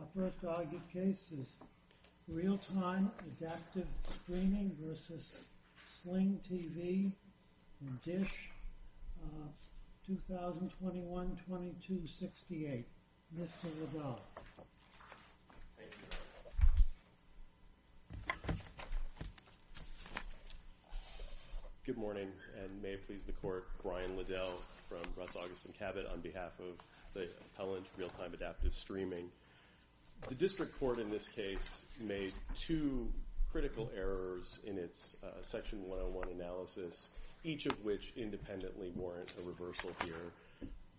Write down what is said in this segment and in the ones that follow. Our first argued case is Realtime Adaptive Streaming v. Sling TV, D.I.S.H., 2021-22-68. Mr. Liddell. Thank you, Your Honor. Good morning, and may it please the Court, Brian Liddell from Roth, August, & Cabot on behalf of the appellant Realtime Adaptive Streaming. The district court in this case made two critical errors in its Section 101 analysis, each of which independently warrant a reversal here.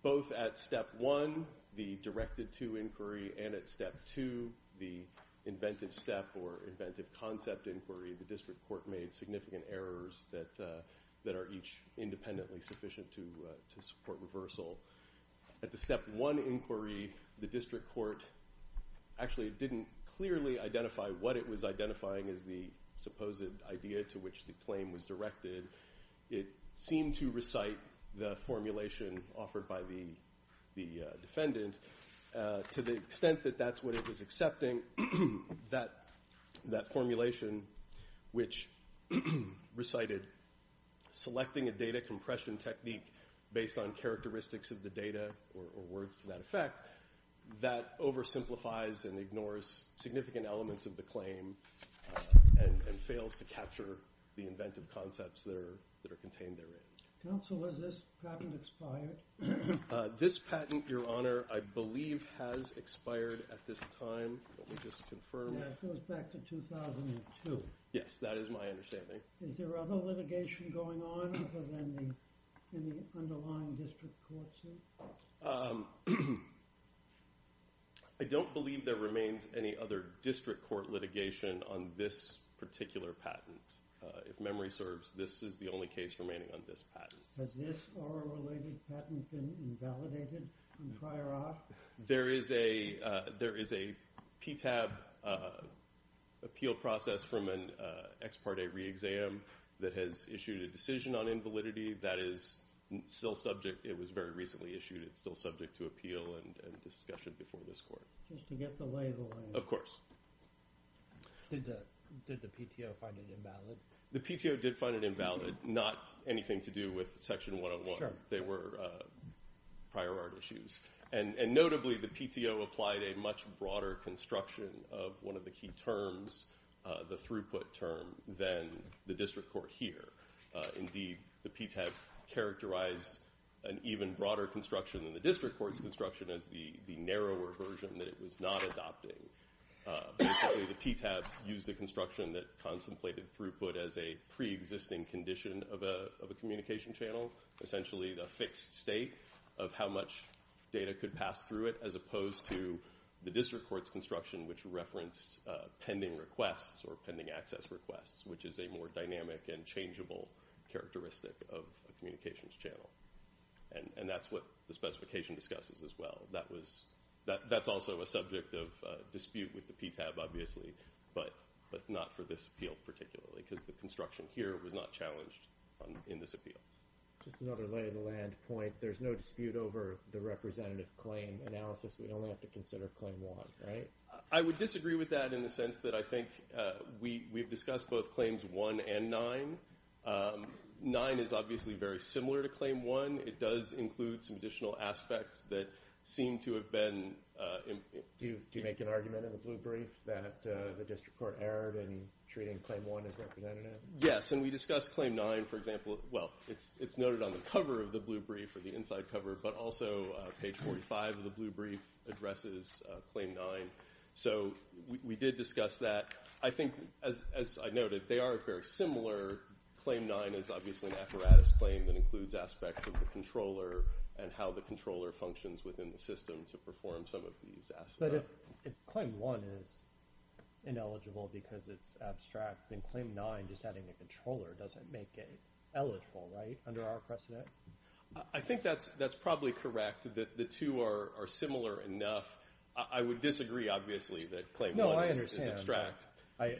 Both at Step 1, the directed-to inquiry, and at Step 2, the inventive step or inventive concept inquiry, the district court made significant errors that are each independently sufficient to support reversal. At the Step 1 inquiry, the district court actually didn't clearly identify what it was identifying as the supposed idea to which the claim was directed. It seemed to recite the formulation offered by the defendant. To the extent that that's what it was accepting, that formulation, which recited selecting a data compression technique based on characteristics of the data or words to that effect, that oversimplifies and ignores significant elements of the claim and fails to capture the inventive concepts that are contained therein. Counsel, has this patent expired? This patent, Your Honor, I believe has expired at this time. Let me just confirm. That goes back to 2002. Yes, that is my understanding. Is there other litigation going on other than the underlying district court suit? I don't believe there remains any other district court litigation on this particular patent. Has this oral-related patent been invalidated prior off? There is a PTAB appeal process from an ex parte re-exam that has issued a decision on invalidity. That is still subject. It was very recently issued. It's still subject to appeal and discussion before this court. Just to get the label in. Of course. Did the PTO find it invalid? The PTO did find it invalid. Not anything to do with Section 101. They were prior art issues. And notably, the PTO applied a much broader construction of one of the key terms, the throughput term, than the district court here. Indeed, the PTAB characterized an even broader construction than the district court's construction as the narrower version that it was not adopting. The PTAB used a construction that contemplated throughput as a pre-existing condition of a communication channel, essentially the fixed state of how much data could pass through it, as opposed to the district court's construction, which referenced pending requests or pending access requests, which is a more dynamic and changeable characteristic of a communications channel. And that's what the specification discusses as well. That's also a subject of dispute with the PTAB, obviously, but not for this appeal particularly, because the construction here was not challenged in this appeal. Just another lay-of-the-land point. There's no dispute over the representative claim analysis. We only have to consider Claim 1, right? I would disagree with that in the sense that I think we've discussed both Claims 1 and 9. 9 is obviously very similar to Claim 1. It does include some additional aspects that seem to have been— Do you make an argument in the blue brief that the district court erred in treating Claim 1 as representative? Yes, and we discussed Claim 9, for example. Well, it's noted on the cover of the blue brief or the inside cover, but also page 45 of the blue brief addresses Claim 9. So we did discuss that. I think, as I noted, they are very similar. Claim 9 is obviously an apparatus claim that includes aspects of the controller and how the controller functions within the system to perform some of these aspects. But if Claim 1 is ineligible because it's abstract, then Claim 9, just adding a controller, doesn't make it eligible, right, under our precedent? I think that's probably correct, that the two are similar enough. I would disagree, obviously, that Claim 1 is abstract. I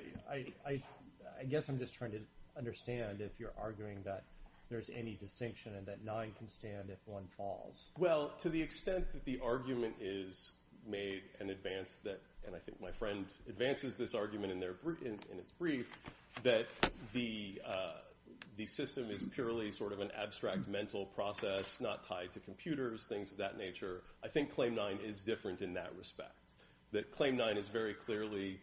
guess I'm just trying to understand if you're arguing that there's any distinction and that 9 can stand if 1 falls. Well, to the extent that the argument is made and advanced, and I think my friend advances this argument in its brief, that the system is purely sort of an abstract mental process, not tied to computers, things of that nature. I think Claim 9 is different in that respect. That Claim 9 is very clearly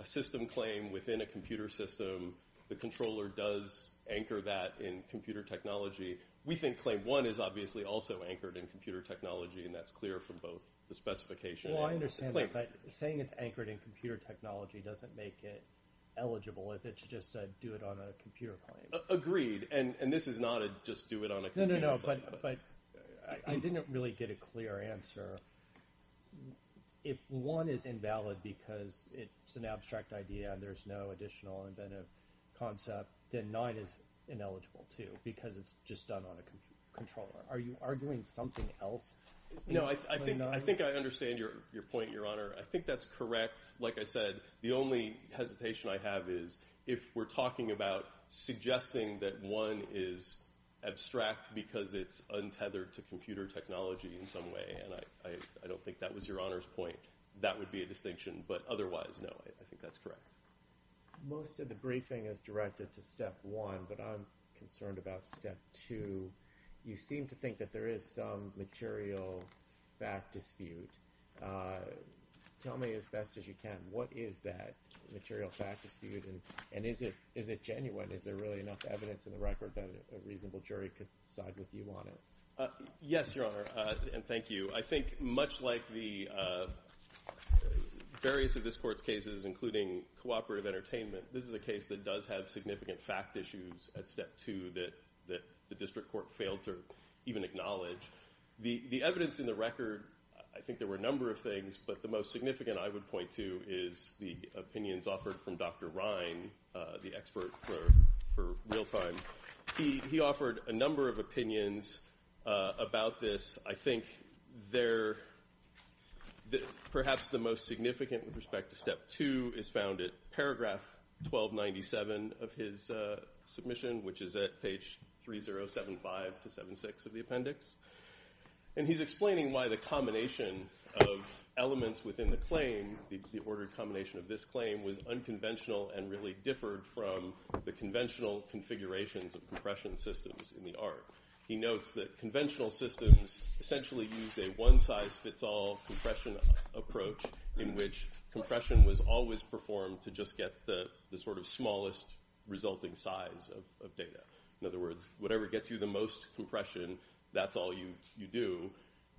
a system claim within a computer system. The controller does anchor that in computer technology. We think Claim 1 is obviously also anchored in computer technology, and that's clear from both the specification and the claim. Well, I understand that, but saying it's anchored in computer technology doesn't make it eligible if it's just a do-it-on-a-computer claim. Agreed, and this is not a just do-it-on-a-computer claim. No, no, no, but I didn't really get a clear answer. If 1 is invalid because it's an abstract idea and there's no additional inventive concept, then 9 is ineligible too because it's just done on a controller. Are you arguing something else? No, I think I understand your point, Your Honor. I think that's correct. Like I said, the only hesitation I have is if we're talking about suggesting that 1 is abstract because it's untethered to computer technology in some way, and I don't think that was Your Honor's point, that would be a distinction, but otherwise, no, I think that's correct. Most of the briefing is directed to Step 1, but I'm concerned about Step 2. You seem to think that there is some material fact dispute. Tell me as best as you can, what is that material fact dispute, and is it genuine? Is there really enough evidence in the record that a reasonable jury could side with you on it? Yes, Your Honor, and thank you. I think much like the various of this Court's cases, including cooperative entertainment, this is a case that does have significant fact issues at Step 2 that the district court failed to even acknowledge. The evidence in the record, I think there were a number of things, but the most significant I would point to is the opinions offered from Dr. Ryan, the expert for real time. He offered a number of opinions about this. I think perhaps the most significant with respect to Step 2 is found at paragraph 1297 of his submission, which is at page 3075-76 of the appendix. And he's explaining why the combination of elements within the claim, the ordered combination of this claim, was unconventional and really differed from the conventional configurations of compression systems in the art. He notes that conventional systems essentially use a one-size-fits-all compression approach in which compression was always performed to just get the sort of smallest resulting size of data. In other words, whatever gets you the most compression, that's all you do.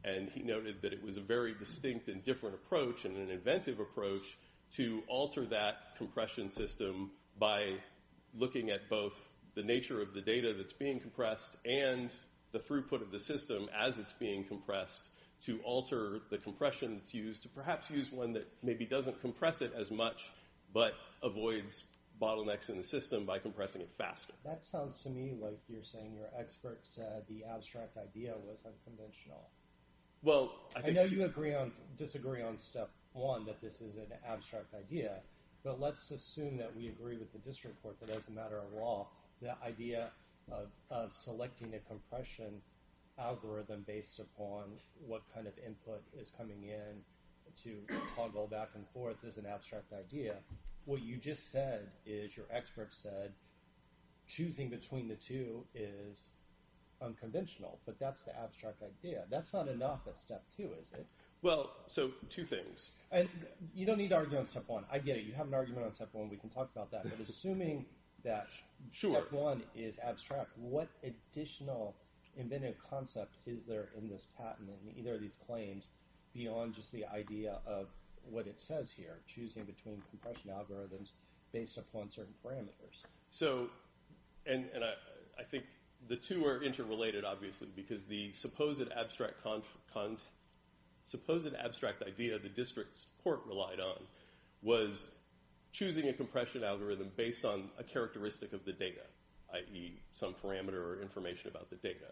And he noted that it was a very distinct and different approach and an inventive approach to alter that compression system by looking at both the nature of the data that's being compressed and the throughput of the system as it's being compressed to alter the compression that's used to perhaps use one that maybe doesn't compress it as much but avoids bottlenecks in the system by compressing it faster. That sounds to me like you're saying your expert said the abstract idea was unconventional. I know you disagree on Step 1, that this is an abstract idea, but let's assume that we agree with the district court that as a matter of law, the idea of selecting a compression algorithm based upon what kind of input is coming in to toggle back and forth is an abstract idea. What you just said is your expert said choosing between the two is unconventional, but that's the abstract idea. That's not enough at Step 2, is it? Well, so two things. You don't need to argue on Step 1. I get it. You have an argument on Step 1. We can talk about that. But assuming that Step 1 is abstract, what additional inventive concept is there in this patent, in either of these claims, beyond just the idea of what it says here, choosing between compression algorithms based upon certain parameters? So, and I think the two are interrelated, obviously, because the supposed abstract idea the district court relied on was choosing a compression algorithm based on a characteristic of the data, i.e., some parameter or information about the data.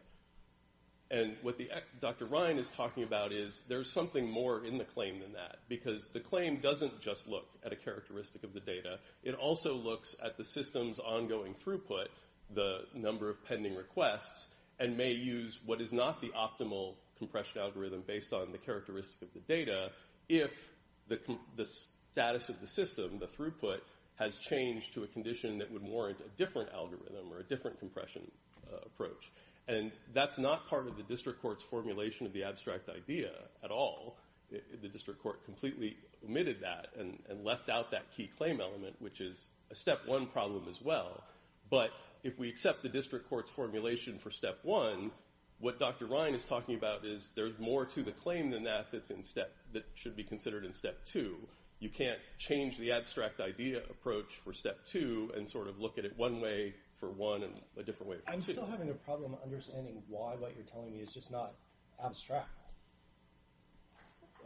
And what Dr. Ryan is talking about is there's something more in the claim than that, because the claim doesn't just look at a characteristic of the data. It also looks at the system's ongoing throughput, the number of pending requests, and may use what is not the optimal compression algorithm based on the characteristic of the data if the status of the system, the throughput, has changed to a condition that would warrant a different algorithm or a different compression approach. And that's not part of the district court's formulation of the abstract idea at all. The district court completely omitted that and left out that key claim element, which is a Step 1 problem as well. But if we accept the district court's formulation for Step 1, what Dr. Ryan is talking about is there's more to the claim than that that should be considered in Step 2. You can't change the abstract idea approach for Step 2 and sort of look at it one way for 1 and a different way for 2. I'm still having a problem understanding why what you're telling me is just not abstract.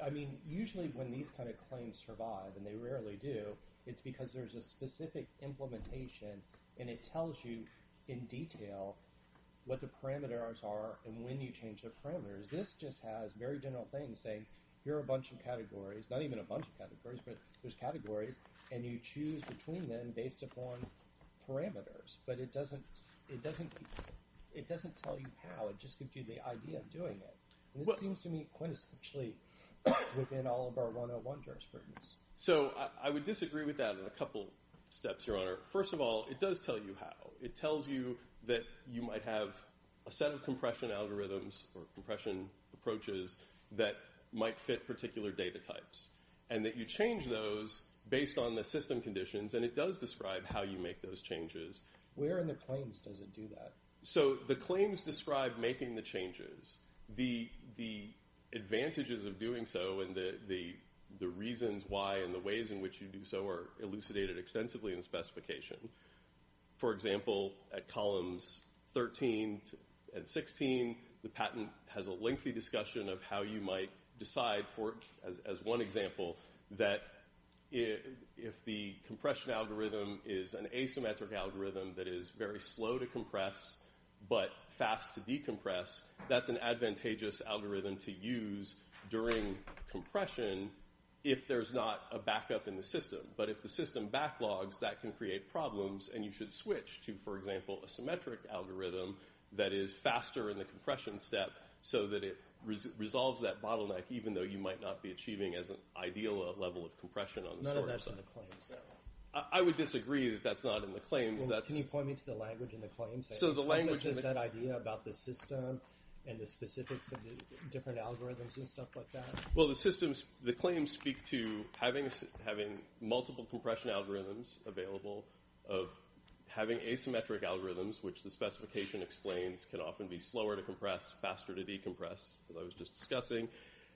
I mean, usually when these kind of claims survive, and they rarely do, it's because there's a specific implementation and it tells you in detail what the parameters are and when you change the parameters. This just has very general things saying here are a bunch of categories, not even a bunch of categories, but there's categories, and you choose between them based upon parameters. But it doesn't tell you how. It just gives you the idea of doing it. And this seems to me quintessentially within all of our 101 jurisprudence. So I would disagree with that on a couple steps, Your Honor. First of all, it does tell you how. It tells you that you might have a set of compression algorithms or compression approaches that might fit particular data types and that you change those based on the system conditions. And it does describe how you make those changes. Where in the claims does it do that? So the claims describe making the changes. The advantages of doing so and the reasons why and the ways in which you do so are elucidated extensively in the specification. For example, at columns 13 and 16, the patent has a lengthy discussion of how you might decide, as one example, that if the compression algorithm is an asymmetric algorithm that is very slow to compress but fast to decompress, that's an advantageous algorithm to use during compression if there's not a backup in the system. But if the system backlogs, that can create problems and you should switch to, for example, a symmetric algorithm that is faster in the compression step so that it resolves that bottleneck, even though you might not be achieving as an ideal level of compression on the storage side. None of that's in the claims, though. I would disagree that that's not in the claims. Can you point me to the language in the claims? Is that idea about the system and the specifics of the different algorithms and stuff like that? Well, the claims speak to having multiple compression algorithms available, of having asymmetric algorithms, which the specification explains can often be slower to compress, faster to decompress, as I was just discussing,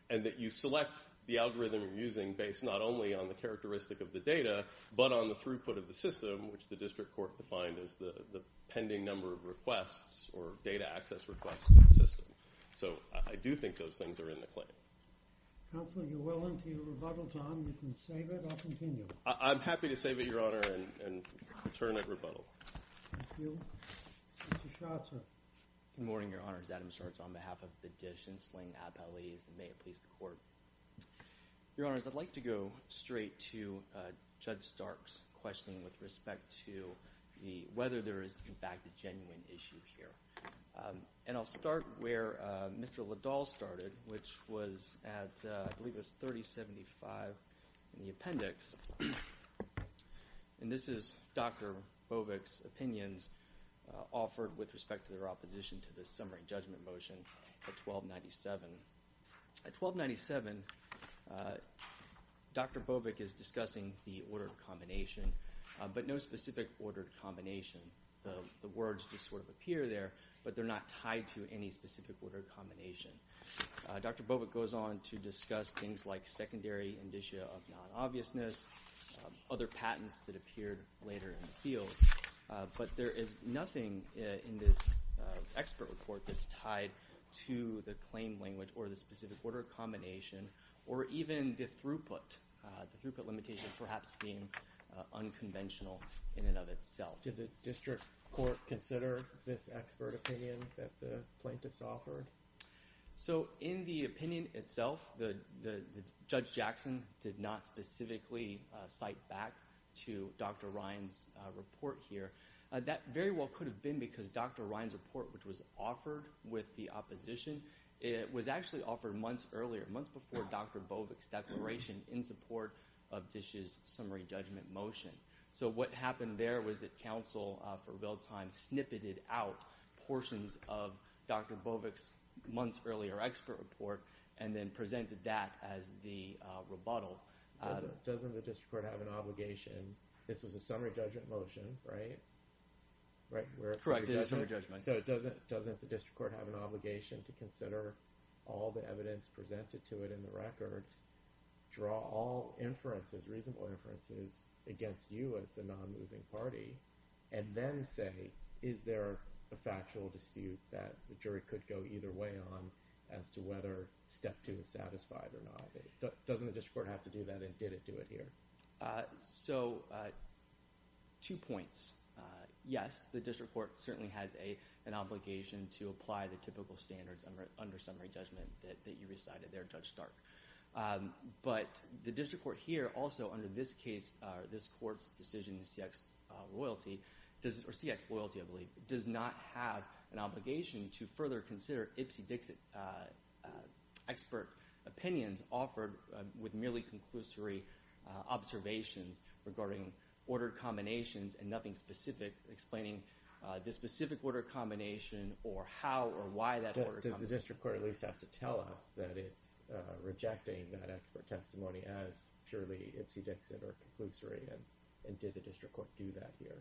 and that you select the algorithm you're using based not only on the characteristic of the data but on the throughput of the system, which the district court defined as the pending number of requests or data access requests in the system. So I do think those things are in the claim. Counsel, you're well into your rebuttal time. You can save it or continue. I'm happy to save it, Your Honor, and return at rebuttal. Thank you. Mr. Scharzer. Good morning, Your Honors. Adam Scharzer on behalf of the Dish and Sling appellees. May it please the Court. Your Honors, I'd like to go straight to Judge Stark's question with respect to whether there is, in fact, a genuine issue here. And I'll start where Mr. Liddell started, which was at, I believe it was 3075 in the appendix, and this is Dr. Bovik's opinions offered with respect to their opposition to the summary judgment motion at 1297. At 1297, Dr. Bovik is discussing the ordered combination, but no specific ordered combination. The words just sort of appear there, but they're not tied to any specific ordered combination. Dr. Bovik goes on to discuss things like secondary indicia of non-obviousness, other patents that appeared later in the field. But there is nothing in this expert report that's tied to the claim language or the specific ordered combination, or even the throughput, the throughput limitation perhaps being unconventional in and of itself. Did the district court consider this expert opinion that the plaintiffs offered? So in the opinion itself, Judge Jackson did not specifically cite back to Dr. Ryan's report here. That very well could have been because Dr. Ryan's report, which was offered with the opposition, was actually offered months earlier, months before Dr. Bovik's declaration in support of Dish's summary judgment motion. So what happened there was that counsel for real time snippeted out portions of Dr. Bovik's months earlier expert report and then presented that as the rebuttal. Doesn't the district court have an obligation – this was a summary judgment motion, right? Correct, it is a summary judgment. So doesn't the district court have an obligation to consider all the evidence presented to it in the record, draw all inferences, reasonable inferences against you as the non-moving party, and then say, is there a factual dispute that the jury could go either way on as to whether step two is satisfied or not? Doesn't the district court have to do that and did it do it here? So two points. Yes, the district court certainly has an obligation to apply the typical standards under summary judgment that you recited there, Judge Stark. But the district court here also, under this case, this court's decision in CX loyalty – or CX loyalty, I believe – does not have an obligation to further consider Ipsy-Dixy expert opinions offered with merely conclusory observations regarding ordered combinations and nothing specific explaining the specific order combination or how or why that order combination – that it's rejecting that expert testimony as purely Ipsy-Dixy or conclusory. And did the district court do that here?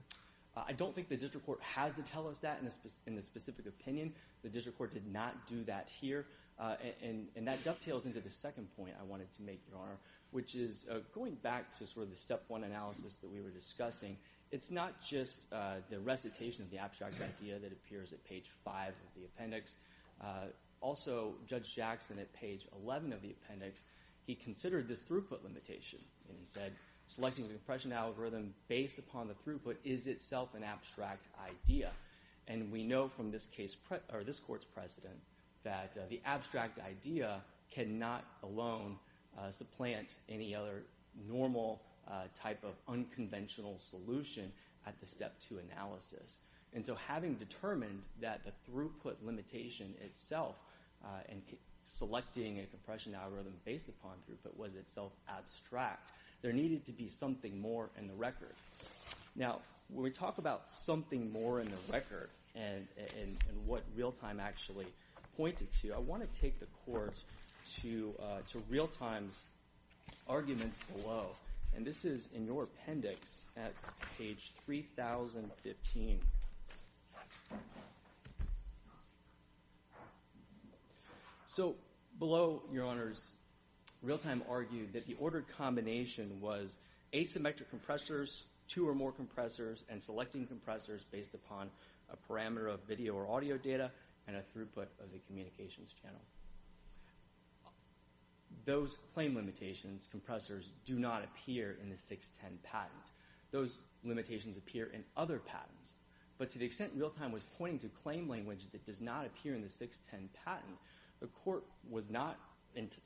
I don't think the district court has to tell us that in a specific opinion. The district court did not do that here. And that dovetails into the second point I wanted to make, Your Honor, which is going back to sort of the step one analysis that we were discussing. It's not just the recitation of the abstract idea that appears at page five of the appendix. Also, Judge Jackson, at page 11 of the appendix, he considered this throughput limitation. And he said, selecting the impression algorithm based upon the throughput is itself an abstract idea. And we know from this court's precedent that the abstract idea cannot alone supplant any other normal type of unconventional solution at the step two analysis. And so having determined that the throughput limitation itself and selecting a compression algorithm based upon throughput was itself abstract, there needed to be something more in the record. Now, when we talk about something more in the record and what Realtime actually pointed to, I want to take the court to Realtime's arguments below. And this is in your appendix at page 3015. So below, Your Honors, Realtime argued that the ordered combination was asymmetric compressors, two or more compressors, and selecting compressors based upon a parameter of video or audio data and a throughput of the communications channel. Those claim limitations, compressors, do not appear in the 610 patent. Those limitations appear in other patents. But to the extent Realtime was pointing to claim language that does not appear in the 610 patent, the court was not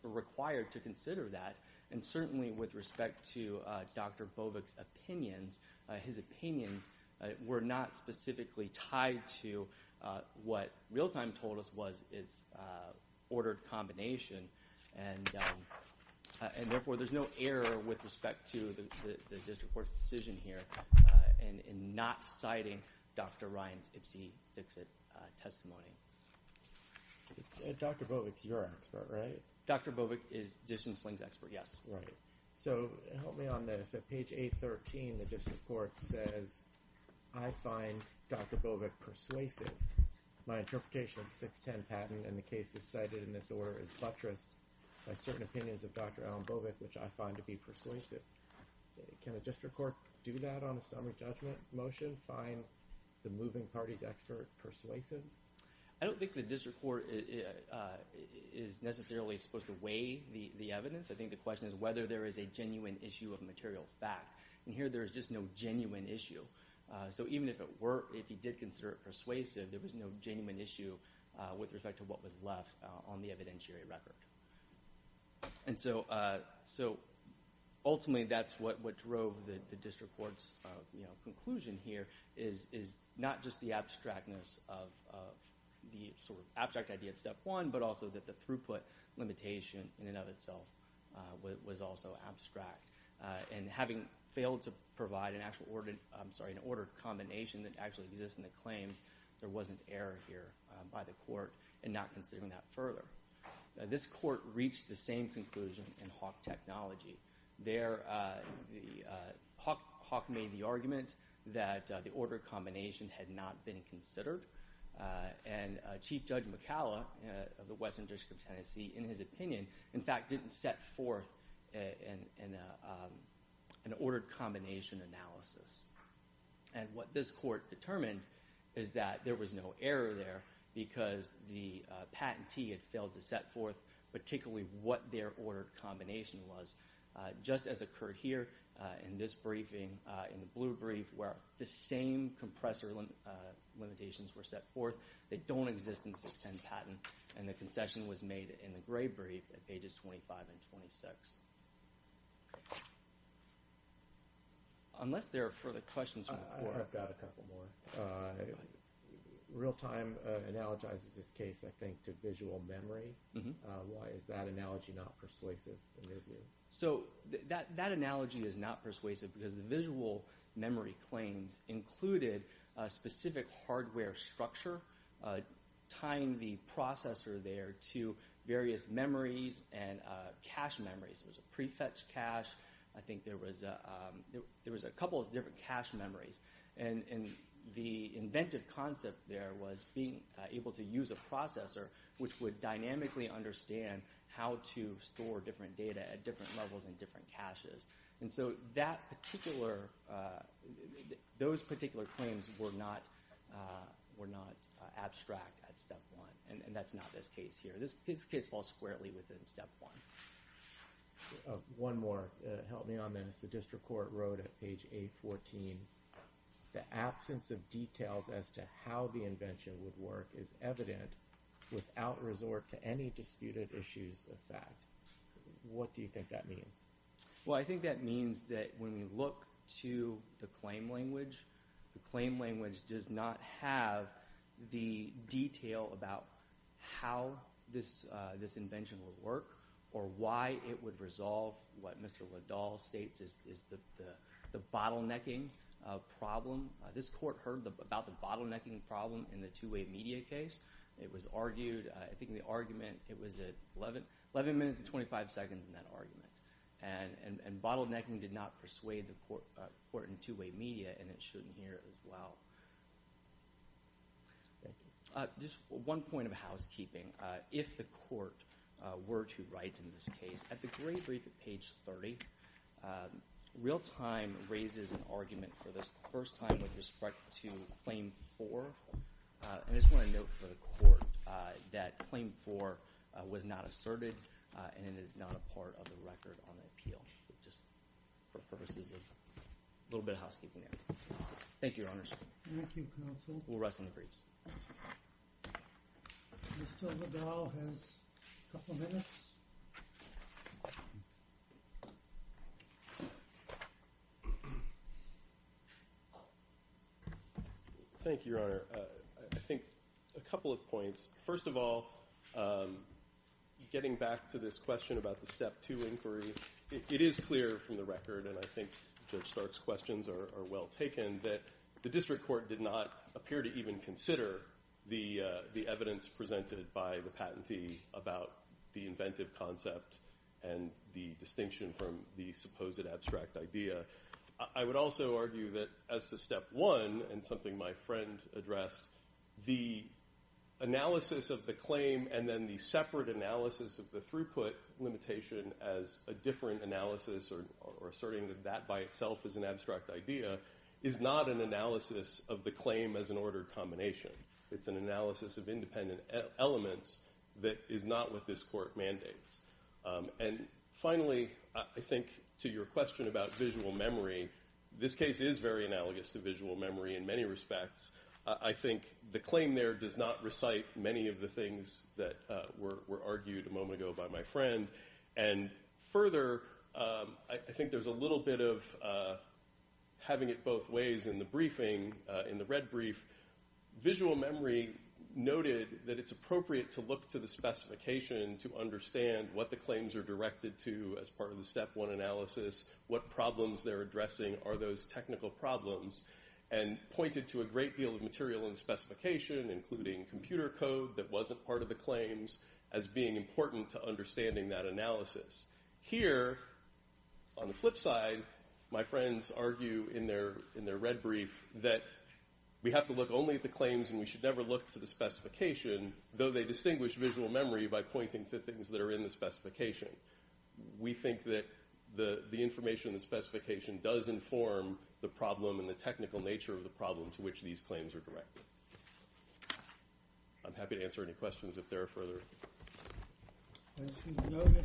required to consider that. And certainly with respect to Dr. Bovik's opinions, his opinions were not specifically tied to what Realtime told us was its ordered combination. And therefore, there's no error with respect to the district court's decision here in not citing Dr. Ryan's Ipsy Dixit testimony. Dr. Bovik's your expert, right? Dr. Bovik is Dixon Sling's expert, yes. Right. So help me on this. At page 813, the district court says, I find Dr. Bovik persuasive. My interpretation of the 610 patent and the cases cited in this order is buttressed by certain opinions of Dr. Alan Bovik, which I find to be persuasive. Can a district court do that on a summary judgment motion, find the moving parties expert persuasive? I don't think the district court is necessarily supposed to weigh the evidence. I think the question is whether there is a genuine issue of material fact. And here there is just no genuine issue. So even if it were, if he did consider it persuasive, there was no genuine issue with respect to what was left on the evidentiary record. And so ultimately that's what drove the district court's conclusion here is not just the abstractness of the sort of abstract idea of step one, but also that the throughput limitation in and of itself was also abstract. And having failed to provide an actual order, I'm sorry, an order combination that actually exists in the claims, there was an error here by the court in not considering that further. This court reached the same conclusion in Hawk Technology. There, Hawk made the argument that the order combination had not been considered. And Chief Judge McCalla of the Western District of Tennessee, in his opinion, in fact, didn't set forth an ordered combination analysis. And what this court determined is that there was no error there because the patentee had failed to set forth particularly what their ordered combination was. Just as occurred here in this briefing, in the blue brief, where the same compressor limitations were set forth that don't exist in 610 patent. And the concession was made in the gray brief at pages 25 and 26. Unless there are further questions from the court. I've got a couple more. Real-time analogizes this case, I think, to visual memory. Why is that analogy not persuasive in your view? So that analogy is not persuasive because the visual memory claims included a specific hardware structure tying the processor there to various memories and cache memories. There was a prefetch cache. I think there was a couple of different cache memories. And the inventive concept there was being able to use a processor which would dynamically understand how to store different data at different levels in different caches. And so that particular – those particular claims were not abstract at step one. And that's not this case here. This case falls squarely within step one. One more. Help me on this. The district court wrote at page 814, the absence of details as to how the invention would work is evident without resort to any disputed issues of fact. What do you think that means? Well, I think that means that when we look to the claim language, the claim language does not have the detail about how this invention would work or why it would resolve what Mr. Liddell states is the bottlenecking problem. This court heard about the bottlenecking problem in the two-way media case. It was argued – I think the argument – it was at 11 minutes and 25 seconds in that argument. And bottlenecking did not persuade the court in two-way media, and it shouldn't here as well. Thank you. Just one point of housekeeping. If the court were to write in this case, at the great brief at page 30, real time raises an argument for this the first time with respect to claim four. And I just want to note for the court that claim four was not asserted, and it is not a part of the record on the appeal. Just for purposes of a little bit of housekeeping there. Thank you, Your Honors. Thank you, counsel. We'll rest on the briefs. Mr. Liddell has a couple minutes. Thank you, Your Honor. I think a couple of points. First of all, getting back to this question about the step two inquiry, it is clear from the record, and I think Judge Stark's questions are well taken, that the district court did not appear to even consider the evidence presented by the patentee about the inventive concept and the distinction from the supposed abstract idea. I would also argue that as to step one, and something my friend addressed, the analysis of the claim and then the separate analysis of the throughput limitation as a different analysis or asserting that that by itself is an abstract idea is not an analysis of the claim as an ordered combination. It's an analysis of independent elements that is not what this court mandates. And finally, I think to your question about visual memory, this case is very analogous to visual memory in many respects. I think the claim there does not recite many of the things that were argued a moment ago by my friend. And further, I think there's a little bit of having it both ways in the briefing, in the red brief. Visual memory noted that it's appropriate to look to the specification to understand what the claims are directed to as part of the step one analysis, what problems they're addressing are those technical problems, and pointed to a great deal of material in the specification, including computer code that wasn't part of the claims, as being important to understanding that analysis. Here, on the flip side, my friends argue in their red brief that we have to look only at the claims and we should never look to the specification, though they distinguish visual memory by pointing to things that are in the specification. We think that the information in the specification does inform the problem and the technical nature of the problem to which these claims are directed. I'm happy to answer any questions if there are further. As you noted,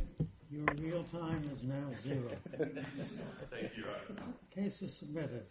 your real time is now zero. Thank you, Your Honor. Case is submitted.